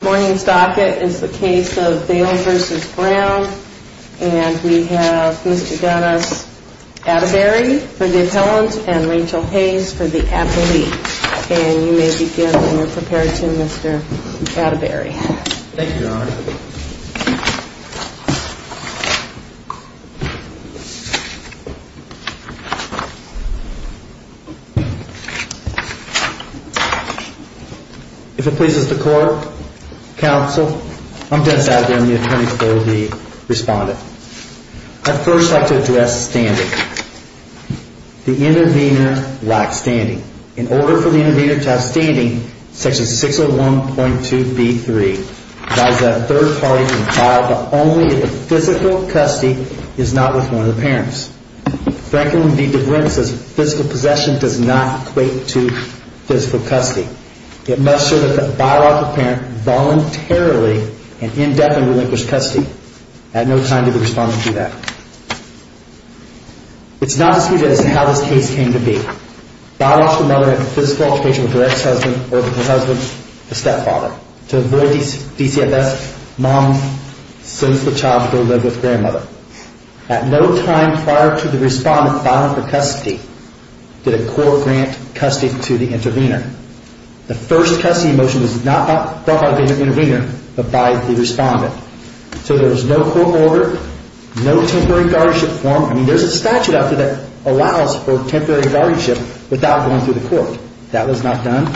Morning's docket is the case of Vail v. Brown and we have Mr. Dennis Atterbury for the appellant and Rachel Hayes for the appellee and you may begin when you're prepared to, Mr. Atterbury. If it pleases the court, counsel, I'm Dennis Atterbury. I'm the attorney for the respondent. I'd first like to address standing. The intervener lacks standing. In order for the intervener to have standing, section 601.2b.3 provides that a third party can file but only if the physical custody is not with one of the parents. Section 601.2b.3 says physical possession does not equate to physical custody. It must show that the by-lawful parent voluntarily and indefinitely relinquished custody. At no time did the respondent do that. It's not disputed as to how this case came to be. By-lawful mother had physical altercation with her ex-husband or her husband's stepfather. To avoid DCFS, mom sent the child to go live with grandmother. At no time prior to the respondent filing for custody did a court grant custody to the intervener. The first custody motion was not brought by the intervener but by the respondent. So there was no court order, no temporary guardianship form. There's a statute out there that allows for temporary guardianship without going through the court. That was not done.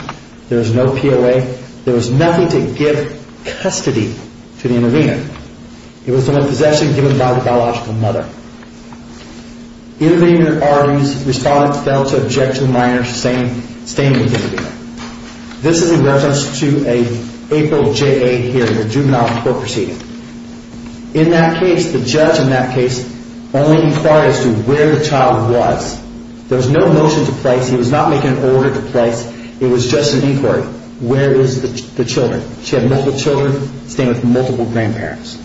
There was no POA. There was nothing to give custody to the intervener. It was only possession given by the biological mother. Intervener's respondent failed to object to the minor staying with the intervener. This is in reference to an April J.A. hearing, a juvenile court proceeding. In that case, the judge in that case only inquired as to where the child was. There was no motion to place. He was not making an order to place. It was just an inquiry. Where is the children? She had multiple children staying with multiple grandparents.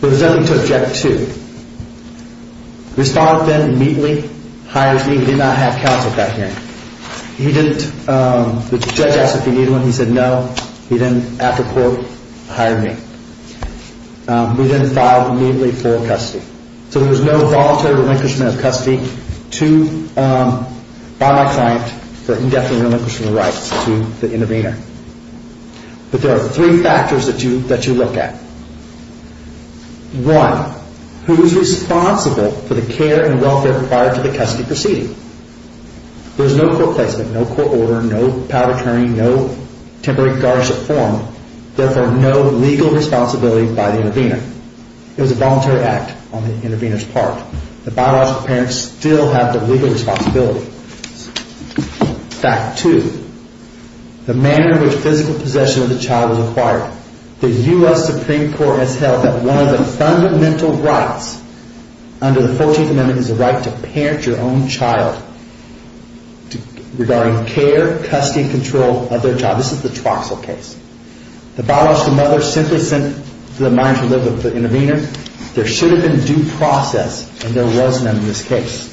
There was nothing to object to. Respondent then immediately hired me. He did not have counsel at that hearing. The judge asked if he needed one. He said no. He then, after court, hired me. We then filed immediately for custody. So there was no voluntary relinquishment of custody by my client for indefinitely relinquishing the rights to the intervener. But there are three factors that you look at. One, who is responsible for the care and welfare required to the custody proceeding? There is no court placement, no court order, no POA, no temporary guardianship form, therefore no legal responsibility by the intervener. It was a voluntary act on the intervener's part. The biological parents still have the legal responsibility. Fact two, the manner in which physical possession of the child was acquired. The U.S. Supreme Court has held that one of the fundamental rights under the 14th Amendment is the right to parent your own child regarding care, custody and control of their child. This is the Troxel case. The biological mother simply sent the minor to live with the intervener. There should have been due process and there was none in this case.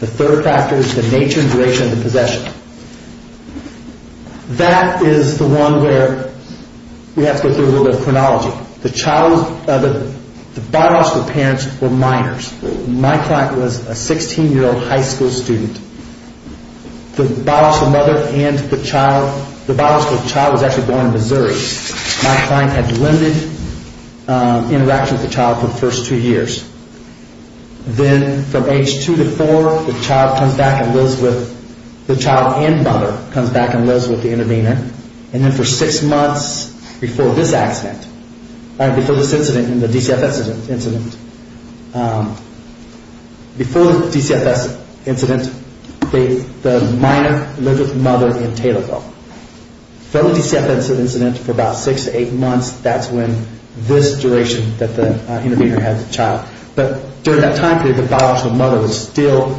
The third factor is the nature and duration of the possession. That is the one where we have to go through a little bit of chronology. The biological parents were minors. My client was a 16-year-old high school student. The biological child was actually born in Missouri. My client had limited interaction with the child for the first two years. Then from age two to four, the child and mother comes back and lives with the intervener. And then for six months before this accident, before the DCFS incident, the minor lived with the mother in Taylorville. After the DCFS incident for about six to eight months, that's when this duration that the intervener had the child. But during that time period, the biological mother was still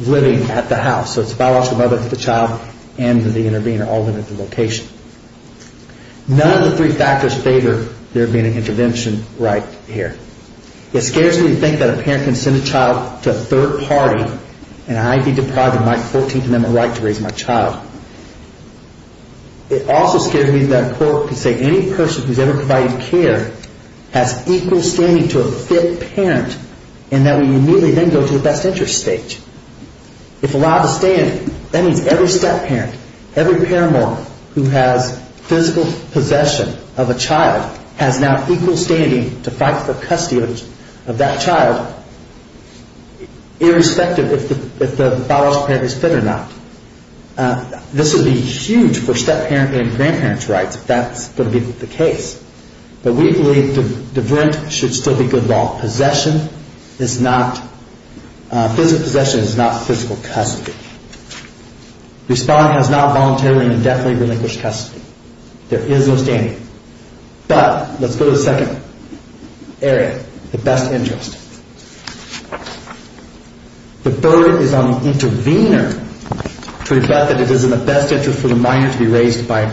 living at the house. So it's the biological mother, the child and the intervener all living at the location. None of the three factors favor there being an intervention right here. It scares me to think that a parent can send a child to a third party and I'd be deprived of my 14th Amendment right to raise my child. It also scares me that a court can say any person who's ever provided care has equal standing to a fit parent and that we immediately then go to the best interest stage. If allowed to stand, that means every step-parent, every paramour who has physical possession of a child has now equal standing to fight for custody of that child, irrespective if the biological parent is fit or not. Now, this would be huge for step-parent and grandparent's rights if that's going to be the case. But we believe the diverent should still be good law. Physical possession is not physical custody. Respondent has now voluntarily and indefinitely relinquished custody. There is no standing. But, let's go to the second area, the best interest. The burden is on the intervener to reflect that it is in the best interest for the minor to be raised by a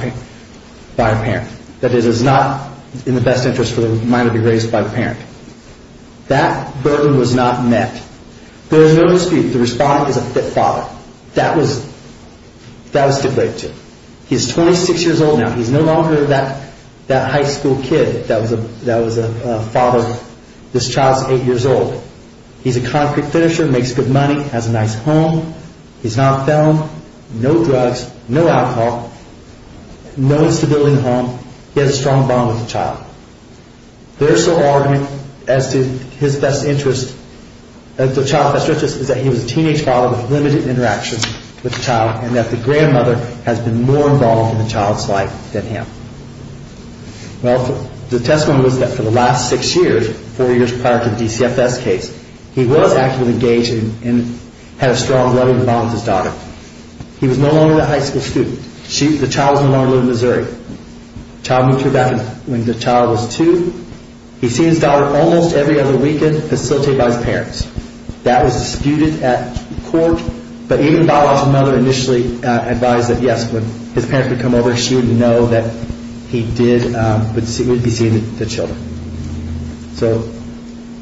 parent. That it is not in the best interest for the minor to be raised by a parent. That burden was not met. There is no dispute the respondent is a fit father. That was to break to. He's 26 years old now. He's no longer that high school kid that was a father. This child's 8 years old. He's a concrete finisher, makes good money, has a nice home. He's not a felon, no drugs, no alcohol, no stability in the home. He has a strong bond with the child. Their sole argument as to the child's best interest is that he was a teenage father with limited interactions with the child and that the grandmother has been more involved in the child's life than him. Well, the testimony was that for the last 6 years, 4 years prior to the DCFS case, he was actively engaged and had a strong, loving bond with his daughter. He was no longer that high school student. The child was no longer living in Missouri. The child moved here back when the child was 2. He'd see his daughter almost every other weekend, facilitated by his parents. That was disputed at court. But even the father's mother initially advised that, yes, when his parents would come over, she would know that he would be seeing the children.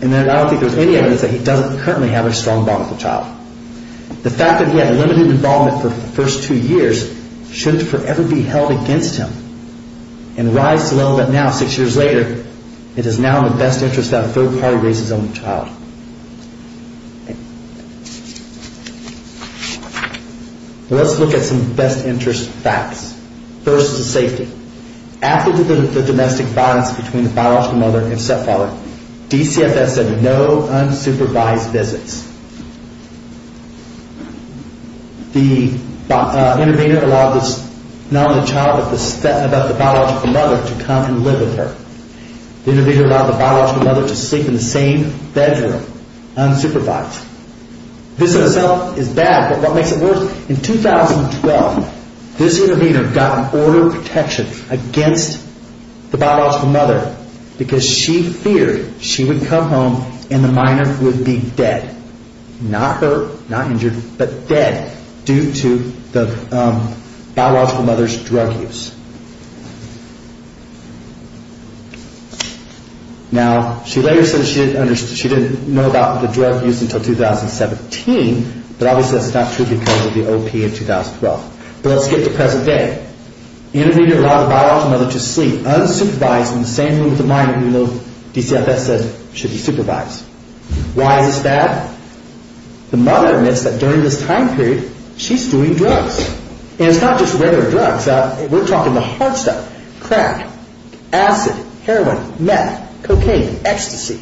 And then I don't think there's any evidence that he doesn't currently have a strong bond with the child. The fact that he had limited involvement for the first 2 years shouldn't forever be held against him. And rise to the level that now, 6 years later, it is now in the best interest to have a third party raise his own child. Let's look at some best interest facts. First, the safety. After the domestic violence between the biological mother and stepfather, DCFS had no unsupervised visits. The intervener allowed not only the child but the biological mother to come and live with her. The intervener allowed the biological mother to sleep in the same bedroom, unsupervised. This in itself is bad, but what makes it worse, in 2012, this intervener got an order of protection against the biological mother because she feared she would come home and the minor would be dead. Not hurt, not injured, but dead due to the biological mother's drug use. Now, she later said she didn't know about the drug use until 2017, but obviously that's not true because of the OP in 2012. But let's get to present day. The intervener allowed the biological mother to sleep, unsupervised, in the same room with the minor, even though DCFS said she'd be supervised. Why is this bad? The mother admits that during this time period, she's doing drugs. And it's not just regular drugs. We're talking the hard stuff. Crack, acid, heroin, meth, cocaine, ecstasy.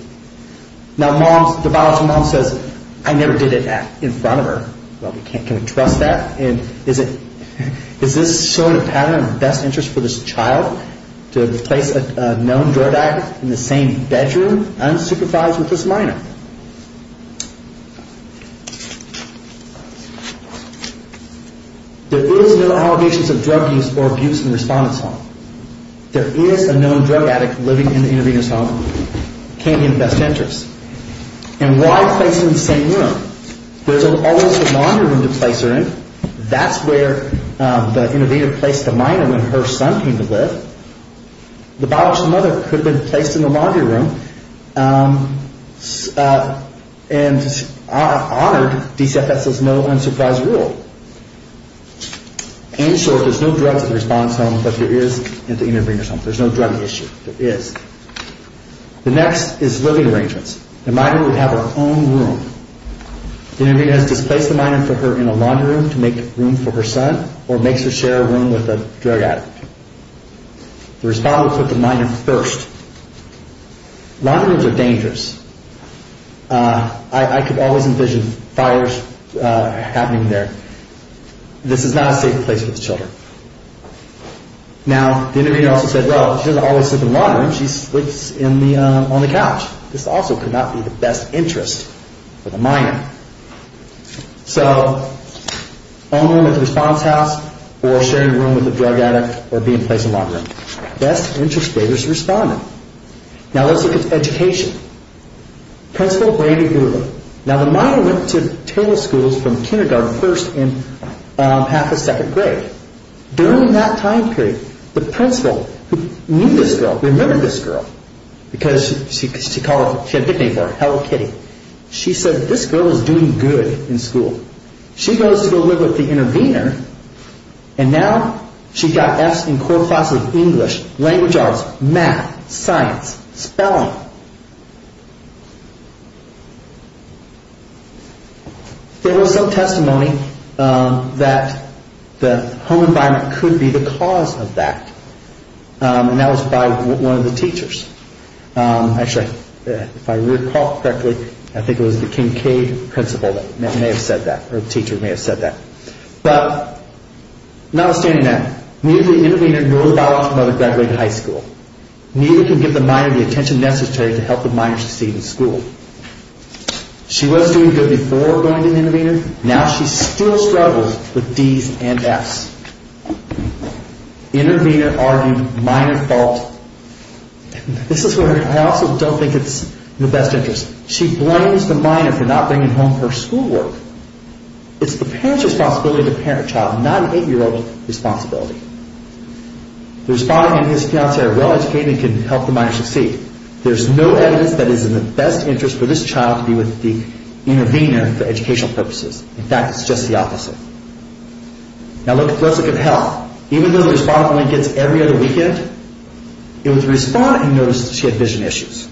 Now, the biological mom says, I never did it in front of her. Well, can we trust that? Is this showing a pattern of best interest for this child, to place a known drug addict in the same bedroom, unsupervised, with this minor? There is no allegations of drug use or abuse in the respondent's home. There is a known drug addict living in the intervener's home. It can't be in best interest. And why place her in the same room? There's always a laundry room to place her in. That's where the intervener placed the minor when her son came to live. The biological mother could have been placed in the laundry room and honored DCFS's known unsupervised rule. In short, there's no drugs in the respondent's home, but there is in the intervener's home. There's no drug issue. There is. The next is living arrangements. The minor would have her own room. The intervener has displaced the minor for her in a laundry room to make room for her son, or makes her share a room with a drug addict. The respondent put the minor first. Laundry rooms are dangerous. I could always envision fires happening there. This is not a safe place for the children. Now, the intervener also said, well, she doesn't always sleep in the laundry room. She sleeps on the couch. This also could not be the best interest for the minor. So, own room at the response house, or share your room with a drug addict, or be in a place in the laundry room. Best interest for the respondent. Now, let's look at education. Principal Brady Goulden. Now, the minor went to Taylor schools from kindergarten first and half of second grade. During that time period, the principal, who knew this girl, remembered this girl. Because she had a nickname for her, Hello Kitty. She said, this girl is doing good in school. She goes to go live with the intervener, and now she's got F's in core classes of English, language arts, math, science, spelling. There was some testimony that the home environment could be the cause of that. And that was by one of the teachers. Actually, if I recall correctly, I think it was the Kincaid principal that may have said that, or the teacher may have said that. But, notwithstanding that, neither the intervener nor the biological mother graduated high school. Neither can give the minor the attention necessary to help the minor succeed in school. She was doing good before going to the intervener. Now, she still struggles with D's and F's. Intervener argued minor fault. This is where I also don't think it's in the best interest. She blames the minor for not bringing home her schoolwork. It's the parent's responsibility as a parent child, not an eight-year-old's responsibility. The respondent and his fiancé are well-educated and can help the minor succeed. There's no evidence that it is in the best interest for this child to be with the intervener for educational purposes. In fact, it's just the opposite. Now, let's look at health. Even though the respondent only gets every other weekend, it was the respondent who noticed she had vision issues.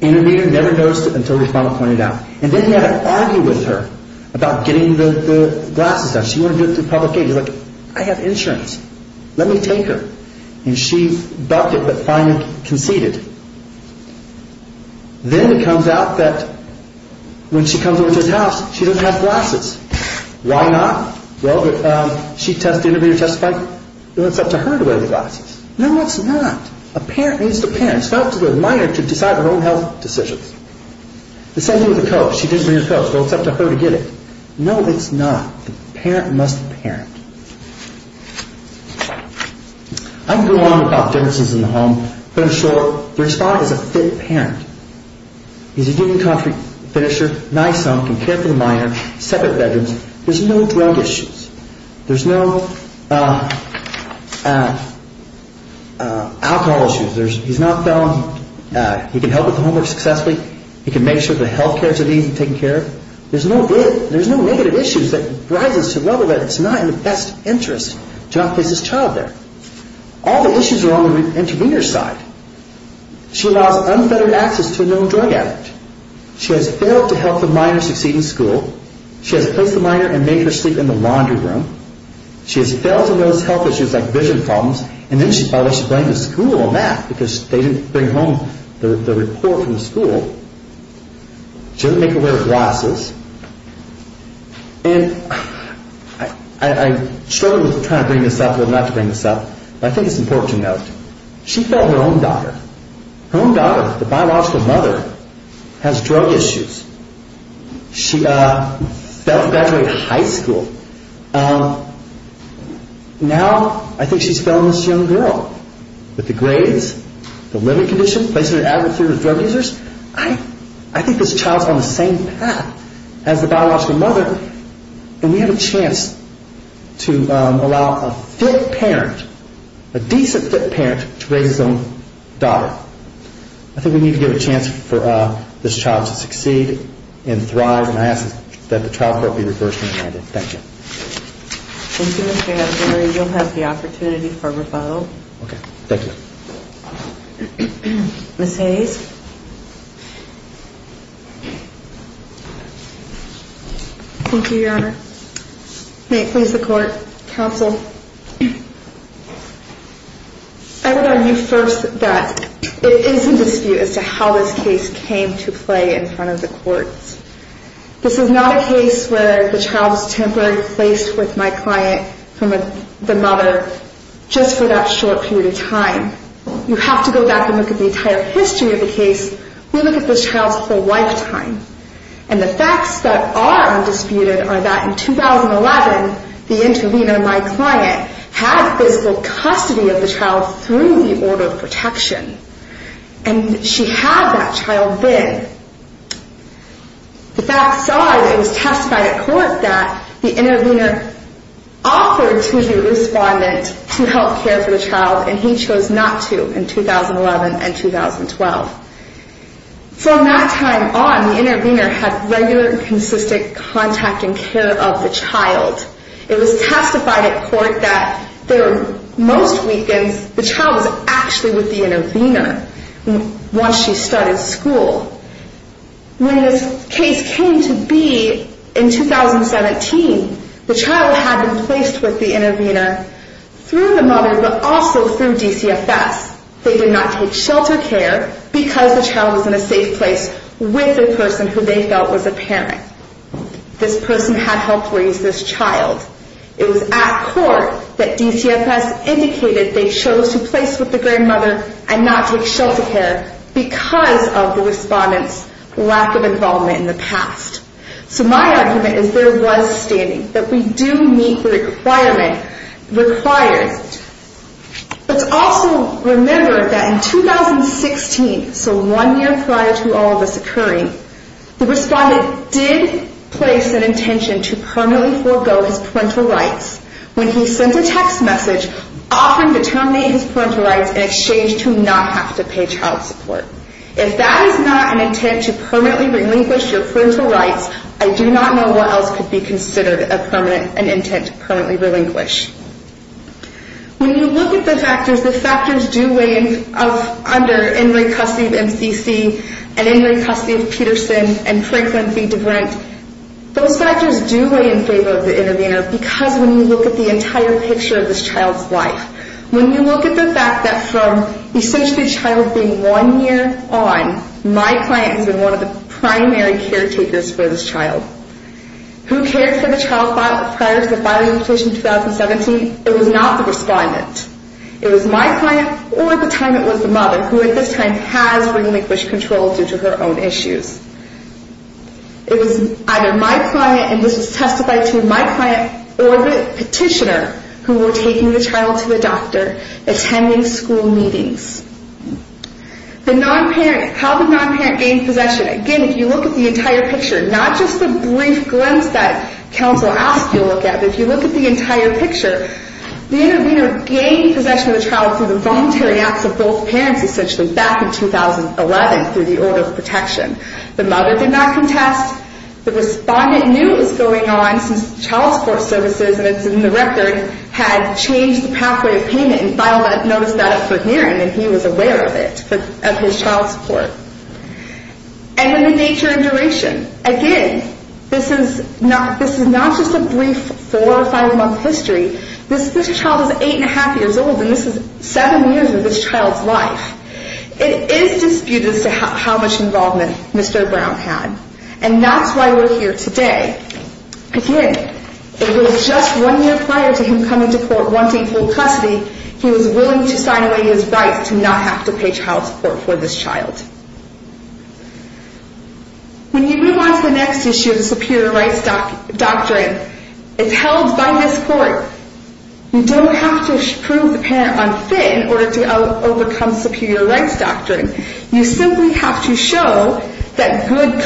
Intervener never noticed it until the respondent pointed it out. And then he had to argue with her about getting the glasses done. She wanted to do it through public aid. He was like, I have insurance. Let me take her. And she bucked it, but finally conceded. Then it comes out that when she comes over to his house, she doesn't have glasses. Why not? Well, did she test the intervener to testify? Well, it's up to her to wear the glasses. No, it's not. A parent needs the parent. It's not up to the minor to decide her own health decisions. The same thing with the coach. She didn't bring her coach. Well, it's up to her to get it. No, it's not. The parent must parent. I can go on about differences in the home, but in short, the respondent is a fit parent. He's a union coffee finisher. Nice home. Can care for the minor. Separate bedrooms. There's no drug issues. There's no alcohol issues. He's not felon. He can help with the homework successfully. He can make sure the health care is at ease and taken care of. There's no negative issues that rises to the level that it's not in the best interest to not place his child there. All the issues are on the intervener's side. She allows unfettered access to a known drug addict. She has failed to help the minor succeed in school. She has placed the minor and made her sleep in the laundry room. She has failed to notice health issues like vision problems. And then she probably should blame the school on that because they didn't bring home the report from the school. She doesn't make her wear glasses. And I struggled with trying to bring this up and not to bring this up, but I think it's important to note. She failed her own daughter. Her own daughter, the biological mother, has drug issues. She failed to graduate high school. Now I think she's felonous to the young girl. With the grades, the living conditions, placing her at an adversarial drug users. I think this child's on the same path as the biological mother. And we have a chance to allow a fit parent, a decent fit parent, to raise his own daughter. I think we need to give a chance for this child to succeed and thrive. And I ask that the child court be reversed and amended. Thank you. Thank you, Mr. Abdure. You'll have the opportunity for rebuttal. Okay. Thank you. Ms. Hayes. Thank you, Your Honor. May it please the court. Counsel. I would argue first that it is in dispute as to how this case came to play in front of the courts. This is not a case where the child was temporarily placed with my client from the mother just for that short period of time. You have to go back and look at the entire history of the case. We look at this child's whole lifetime. And the facts that are undisputed are that in 2011, the intervener, my client, had physical custody of the child through the order of protection. And she had that child then. The facts are that it was testified at court that the intervener offered to the respondent to help care for the child, and he chose not to in 2011 and 2012. From that time on, the intervener had regular and consistent contact and care of the child. It was testified at court that most weekends the child was actually with the intervener once she started school. When this case came to be in 2017, the child had been placed with the intervener through the mother but also through DCFS. They did not take shelter care because the child was in a safe place with the person who they felt was a parent. This person had helped raise this child. It was at court that DCFS indicated they chose to place with the grandmother and not take shelter care because of the respondent's lack of involvement in the past. So my argument is there was standing, that we do meet the requirement required. Let's also remember that in 2016, so one year prior to all of this occurring, the respondent did place an intention to permanently forego his parental rights when he sent a text message offering to terminate his parental rights in exchange to not have to pay child support. If that is not an intent to permanently relinquish your parental rights, I do not know what else could be considered an intent to permanently relinquish. When you look at the factors, the factors do weigh in under inmate custody of MCC and inmate custody of Peterson and Franklin v. DeBrent. Those factors do weigh in favor of the intervener because when you look at the entire picture of this child's life, when you look at the fact that from essentially the child being one year on, my client has been one of the primary caretakers for this child, who cared for the child prior to the filing of the petition in 2017, it was not the respondent. It was my client or at the time it was the mother, who at this time has relinquished control due to her own issues. It was either my client, and this was testified to in my client, or the petitioner who were taking the child to the doctor, attending school meetings. The non-parent, how did non-parent gain possession? Again, if you look at the entire picture, not just the brief glimpse that counsel asked you to look at, but if you look at the entire picture, the intervener gained possession of the child through the voluntary acts of both parents essentially back in 2011 through the order of protection. The mother did not contest. The respondent knew it was going on since child support services, and it's in the record, had changed the pathway of payment and filed that notice for hearing, and he was aware of it, of his child support. And then the nature and duration. Again, this is not just a brief four or five month history. This child is eight and a half years old, and this is seven years of this child's life. It is disputed as to how much involvement Mr. Brown had, and that's why we're here today. Again, it was just one year prior to him coming to court wanting full custody, he was willing to sign away his rights to not have to pay child support for this child. When you move on to the next issue, the superior rights doctrine, it's held by this court. You don't have to prove the parent unfit in order to overcome superior rights doctrine. You simply have to show that good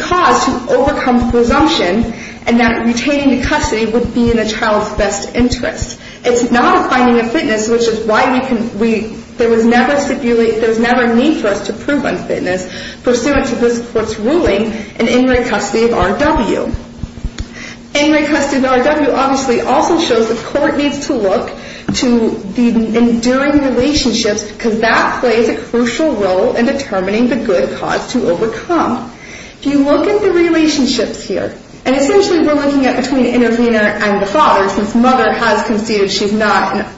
cause to overcome presumption, and that retaining the custody would be in a child's best interest. It's not a finding of fitness, which is why there was never a need for us to prove unfitness, pursuant to this court's ruling in in-ring custody of RW. In-ring custody of RW obviously also shows the court needs to look to the enduring relationships, because that plays a crucial role in determining the good cause to overcome. If you look at the relationships here, and essentially we're looking at between intervener and the father, since mother has conceded she's not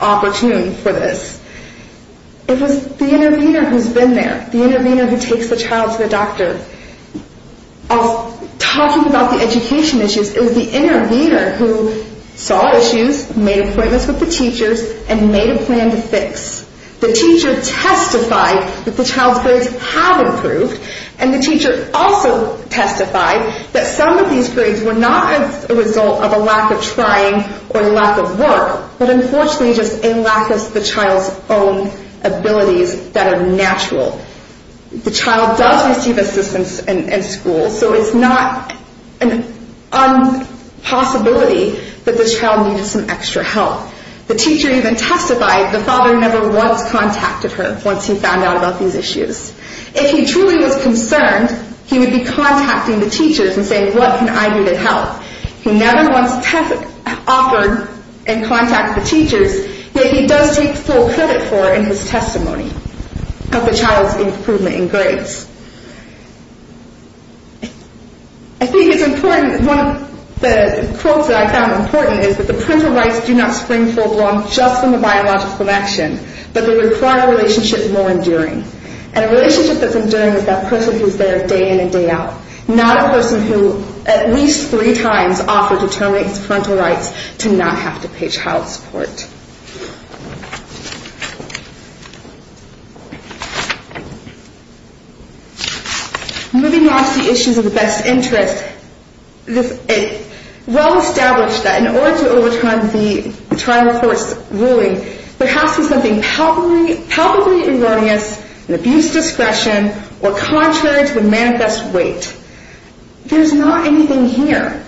opportune for this. It was the intervener who's been there, the intervener who takes the child to the doctor. Talking about the education issues, it was the intervener who saw issues, made appointments with the teachers, and made a plan to fix. The teacher testified that the child's grades had improved, and the teacher also testified that some of these grades were not a result of a lack of trying or lack of work, but unfortunately just a lack of the child's own abilities that are natural. The child does receive assistance in school, so it's not a possibility that the child needed some extra help. The teacher even testified the father never once contacted her once he found out about these issues. If he truly was concerned, he would be contacting the teachers and saying, what can I do to help? He never once offered and contacted the teachers, yet he does take full credit for it in his testimony of the child's improvement in grades. I think it's important, one of the quotes that I found important is that the parental rights do not spring full-blown just from a biological connection, but they require a relationship more enduring. And a relationship that's enduring is that person who's there day in and day out, not a person who at least three times offered to terminate his parental rights to not have to pay child support. Moving on to the issues of the best interest, it's well established that in order to overturn the trial court's ruling, there has to be something palpably erroneous in abuse discretion or contrary to the manifest weight. There's not anything here.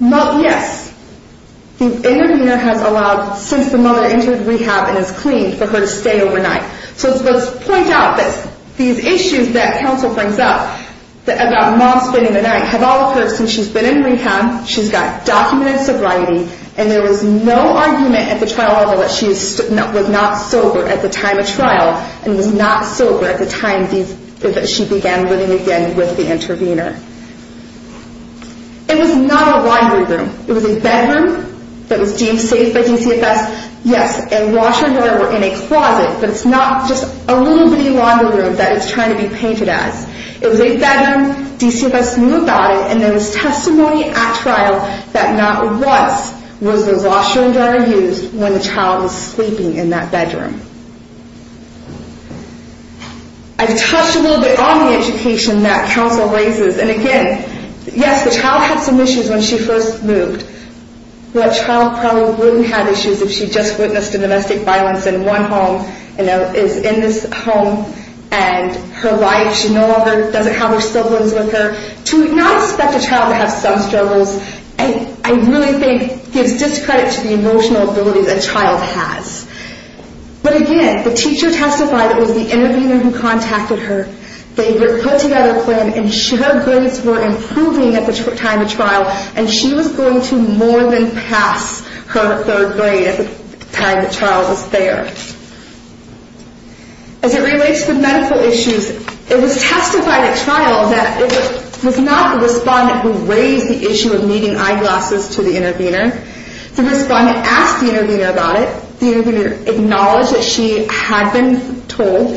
Yes, the intervener has allowed, since the mother entered rehab and is clean, for her to stay overnight. So let's point out that these issues that counsel brings up about mom spending the night have all occurred since she's been in rehab, she's got documented sobriety, and there was no argument at the trial level that she was not sober at the time of trial and was not sober at the time that she began living again with the intervener. It was not a laundry room. It was a bedroom that was deemed safe by DCFS. Yes, a washer and dryer were in a closet, but it's not just a little bitty laundry room that it's trying to be painted as. It was a bedroom, DCFS knew about it, and there was testimony at trial that not once was the washer and dryer used when the child was sleeping in that bedroom. I've touched a little bit on the education that counsel raises, and again, yes, the child had some issues when she first moved. That child probably wouldn't have issues if she just witnessed a domestic violence in one home and is in this home and her wife, she no longer, doesn't have her siblings with her. To not expect a child to have some struggles, I really think, gives discredit to the emotional abilities a child has. But again, the teacher testified it was the intervener who contacted her. They put together a plan, ensured grades were improving at the time of trial, and she was going to more than pass her third grade at the time the trial was there. As it relates to medical issues, it was testified at trial that it was not the respondent who raised the issue of needing eyeglasses to the intervener. The respondent asked the intervener about it. The intervener acknowledged that she had been told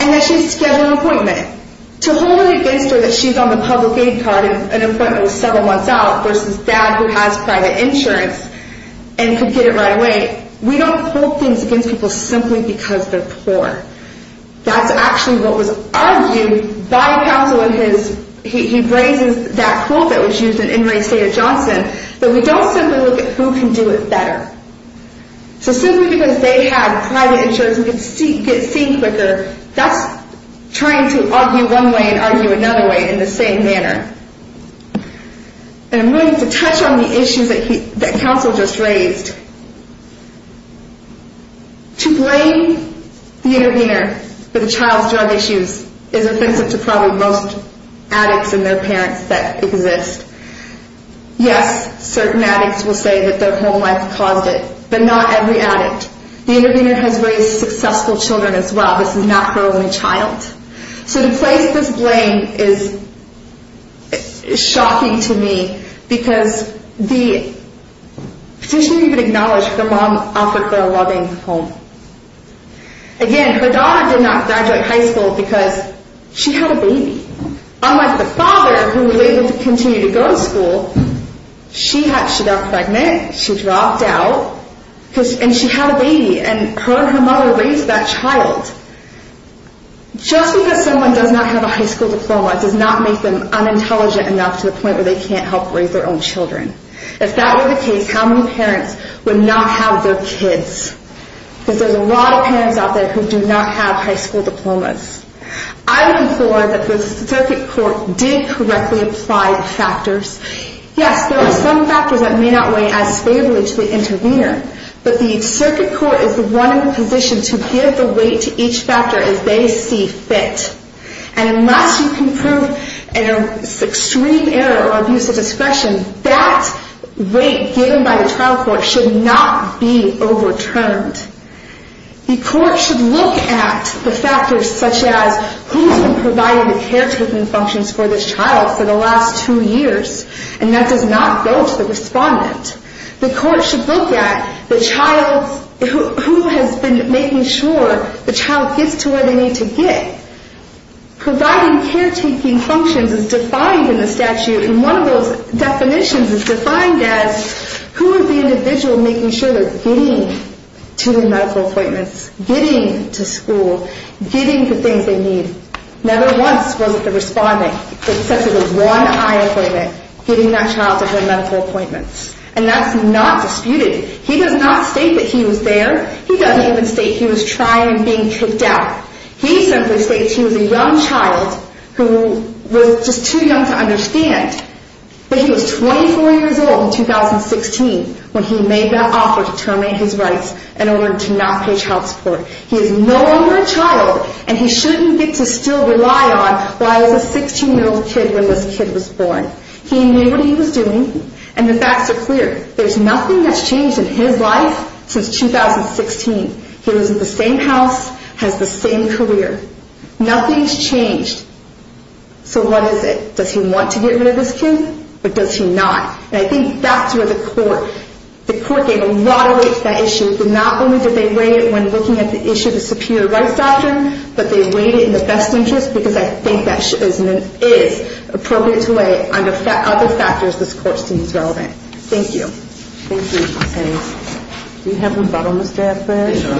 and that she was scheduled an appointment. To hold it against her that she's on the public aid card and an appointment was several months out versus dad who has private insurance and could get it right away, we don't hold things against people simply because they're poor. That's actually what was argued by counsel in his, he raises that quote that was used in In re State of Johnson, that we don't simply look at who can do it better. So simply because they had private insurance and could get seen quicker, that's trying to argue one way and argue another way in the same manner. And I'm going to touch on the issues that counsel just raised. To blame the intervener for the child's drug issues is offensive to probably most addicts and their parents that exist. Yes, certain addicts will say that their home life caused it, but not every addict. The intervener has raised successful children as well. This is not her only child. So the place this blame is shocking to me because the petitioner even acknowledged her mom offered her a loving home. Again, her daughter did not graduate high school because she had a baby. Unlike the father who was able to continue to go to school, she got pregnant, she dropped out, and she had a baby. And her and her mother raised that child. Just because someone does not have a high school diploma does not make them unintelligent enough to the point where they can't help raise their own children. If that were the case, how many parents would not have their kids? Because there's a lot of parents out there who do not have high school diplomas. I would implore that the circuit court did correctly apply the factors. Yes, there are some factors that may not weigh as favorably to the intervener, but the circuit court is the one in the position to give the weight to each factor as they see fit. And unless you can prove an extreme error or abuse of discretion, that weight given by the trial court should not be overturned. The court should look at the factors such as who has been providing the caretaking functions for this child for the last two years, and that does not go to the respondent. The court should look at who has been making sure the child gets to where they need to get. Providing caretaking functions is defined in the statute, and one of those definitions is defined as who is the individual making sure they're getting to their medical appointments, getting to school, getting the things they need. Never once was it the respondent except for the one eye appointment getting that child to their medical appointments. And that's not disputed. He does not state that he was there. He doesn't even state he was trying and being kicked out. He simply states he was a young child who was just too young to understand that he was 24 years old in 2016 when he made that offer to terminate his rights in order to not pay child support. He is no longer a child, and he shouldn't get to still rely on why I was a 16-year-old kid when this kid was born. He knew what he was doing, and the facts are clear. There's nothing that's changed in his life since 2016. He lives in the same house, has the same career. Nothing's changed. So what is it? Does he want to get rid of this kid, or does he not? And I think that's where the court gave a lot of weight to that issue. Not only did they weigh it when looking at the issue of the superior rights doctrine, but they weighed it in the best interest because I think that is appropriate to weigh under other factors this court sees relevant. Thank you. Thank you. Do you have a rebuttal, Mr. Attenborough? Yes, Your Honor.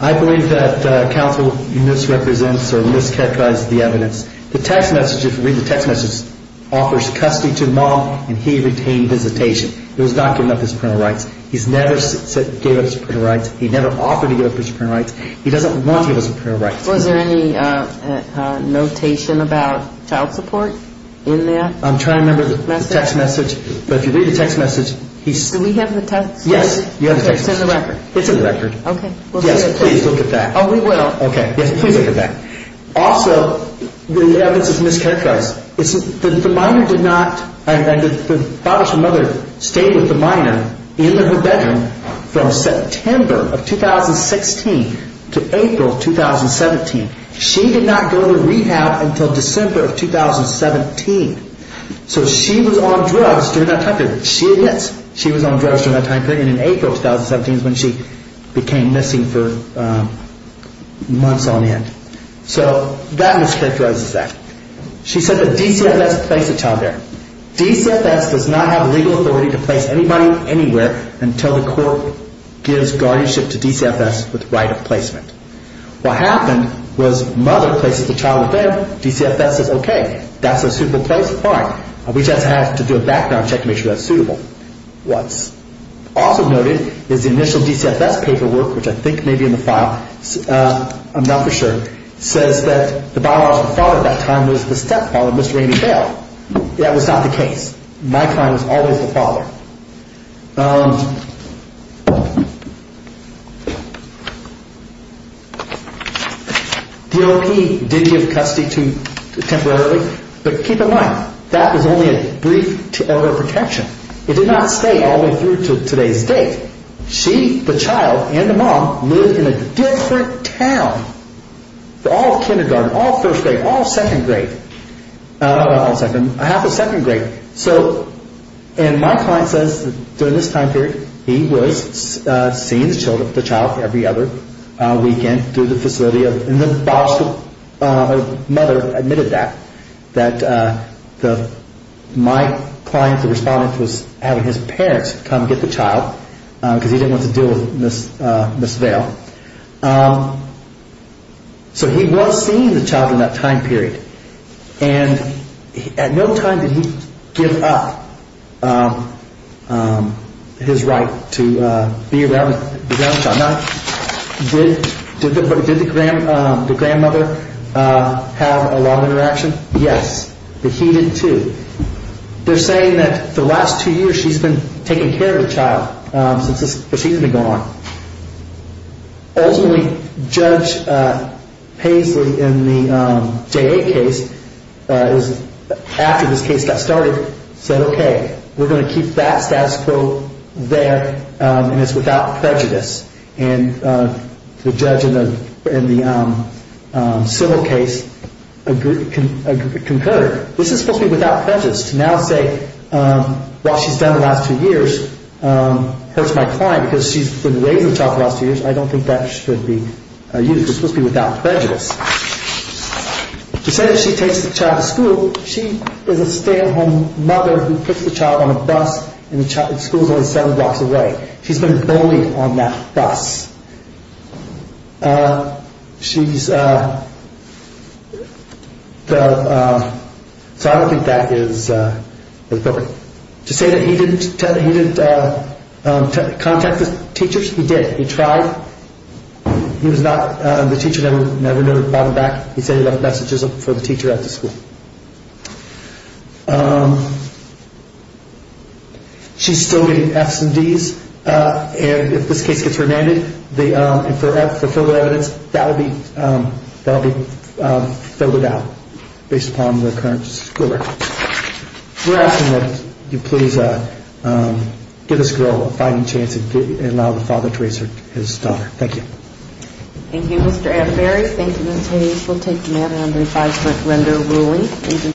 I believe that counsel misrepresents or mischaracterizes the evidence. The text message, if you read the text message, offers custody to the mom, and he retained visitation. He was not given up his superior rights. He never gave up his superior rights. He never offered to give up his superior rights. He doesn't want to give up his superior rights. Was there any notation about child support in there? I'm trying to remember the text message. But if you read the text message, he's... Do we have the text message? Yes, you have the text message. Okay, it's in the record. It's in the record. Okay. Yes, please look at that. Oh, we will. Okay. Yes, please look at that. Also, the evidence is mischaracterized. The minor did not, and the father's mother stayed with the minor in her bedroom from September of 2016 to April of 2017. She did not go to rehab until December of 2017. So she was on drugs during that time period. She admits she was on drugs during that time period, and in April of 2017 is when she became missing for months on end. So that mischaracterizes that. She said the DCFS placed the child there. DCFS does not have legal authority to place anybody anywhere until the court gives guardianship to DCFS with right of placement. What happened was mother places the child with them, DCFS says, okay, that's a suitable place, fine. We just have to do a background check to make sure that's suitable. What's also noted is the initial DCFS paperwork, which I think may be in the file, I'm not for sure, says that the biological father at that time was the stepfather, Mr. Amy Bale. That was not the case. My client was always the father. DLP did give custody temporarily, but keep in mind, that was only a brief order of protection. It did not stay all the way through to today's date. She, the child, and the mom lived in a different town. All kindergarten, all first grade, all second grade, not all second, half of second grade. So in my client's case, my client says that during this time period, he was seeing the child every other weekend through the facility, and the biological mother admitted that, that my client, the respondent, was having his parents come get the child because he didn't want to deal with Ms. Bale. So he was seeing the child in that time period, and at no time did he give up his right to be around the grandchild. Now, did the grandmother have a long interaction? Yes, but he did too. They're saying that the last two years, she's been taking care of the child since this proceeding had gone on. Ultimately, Judge Paisley in the J.A. case, after this case got started, said, okay, we're going to keep that status quo there, and it's without prejudice. And the judge in the civil case concurred. This is supposed to be without prejudice, to now say what she's done the last two years hurts my client because she's been raising the child for the last two years. I don't think that should be used. It's supposed to be without prejudice. To say that she takes the child to school, she is a stay-at-home mother who puts the child on a bus, and the school's only seven blocks away. She's been bullied on that bus. She's... So I don't think that is appropriate. To say that he didn't contact the teachers, he did. He tried. He was not... The teacher never brought him back. He sent enough messages for the teacher at the school. She's still getting Fs and Ds, and if this case gets remanded, and for evidence, that will be filled out based upon the current school records. We're asking that you please give this girl a fighting chance and allow the father to raise his daughter. Thank you. Thank you, Mr. Atterbury. Thank you, Ms. Hayes. We'll take the matter under five-point render ruling.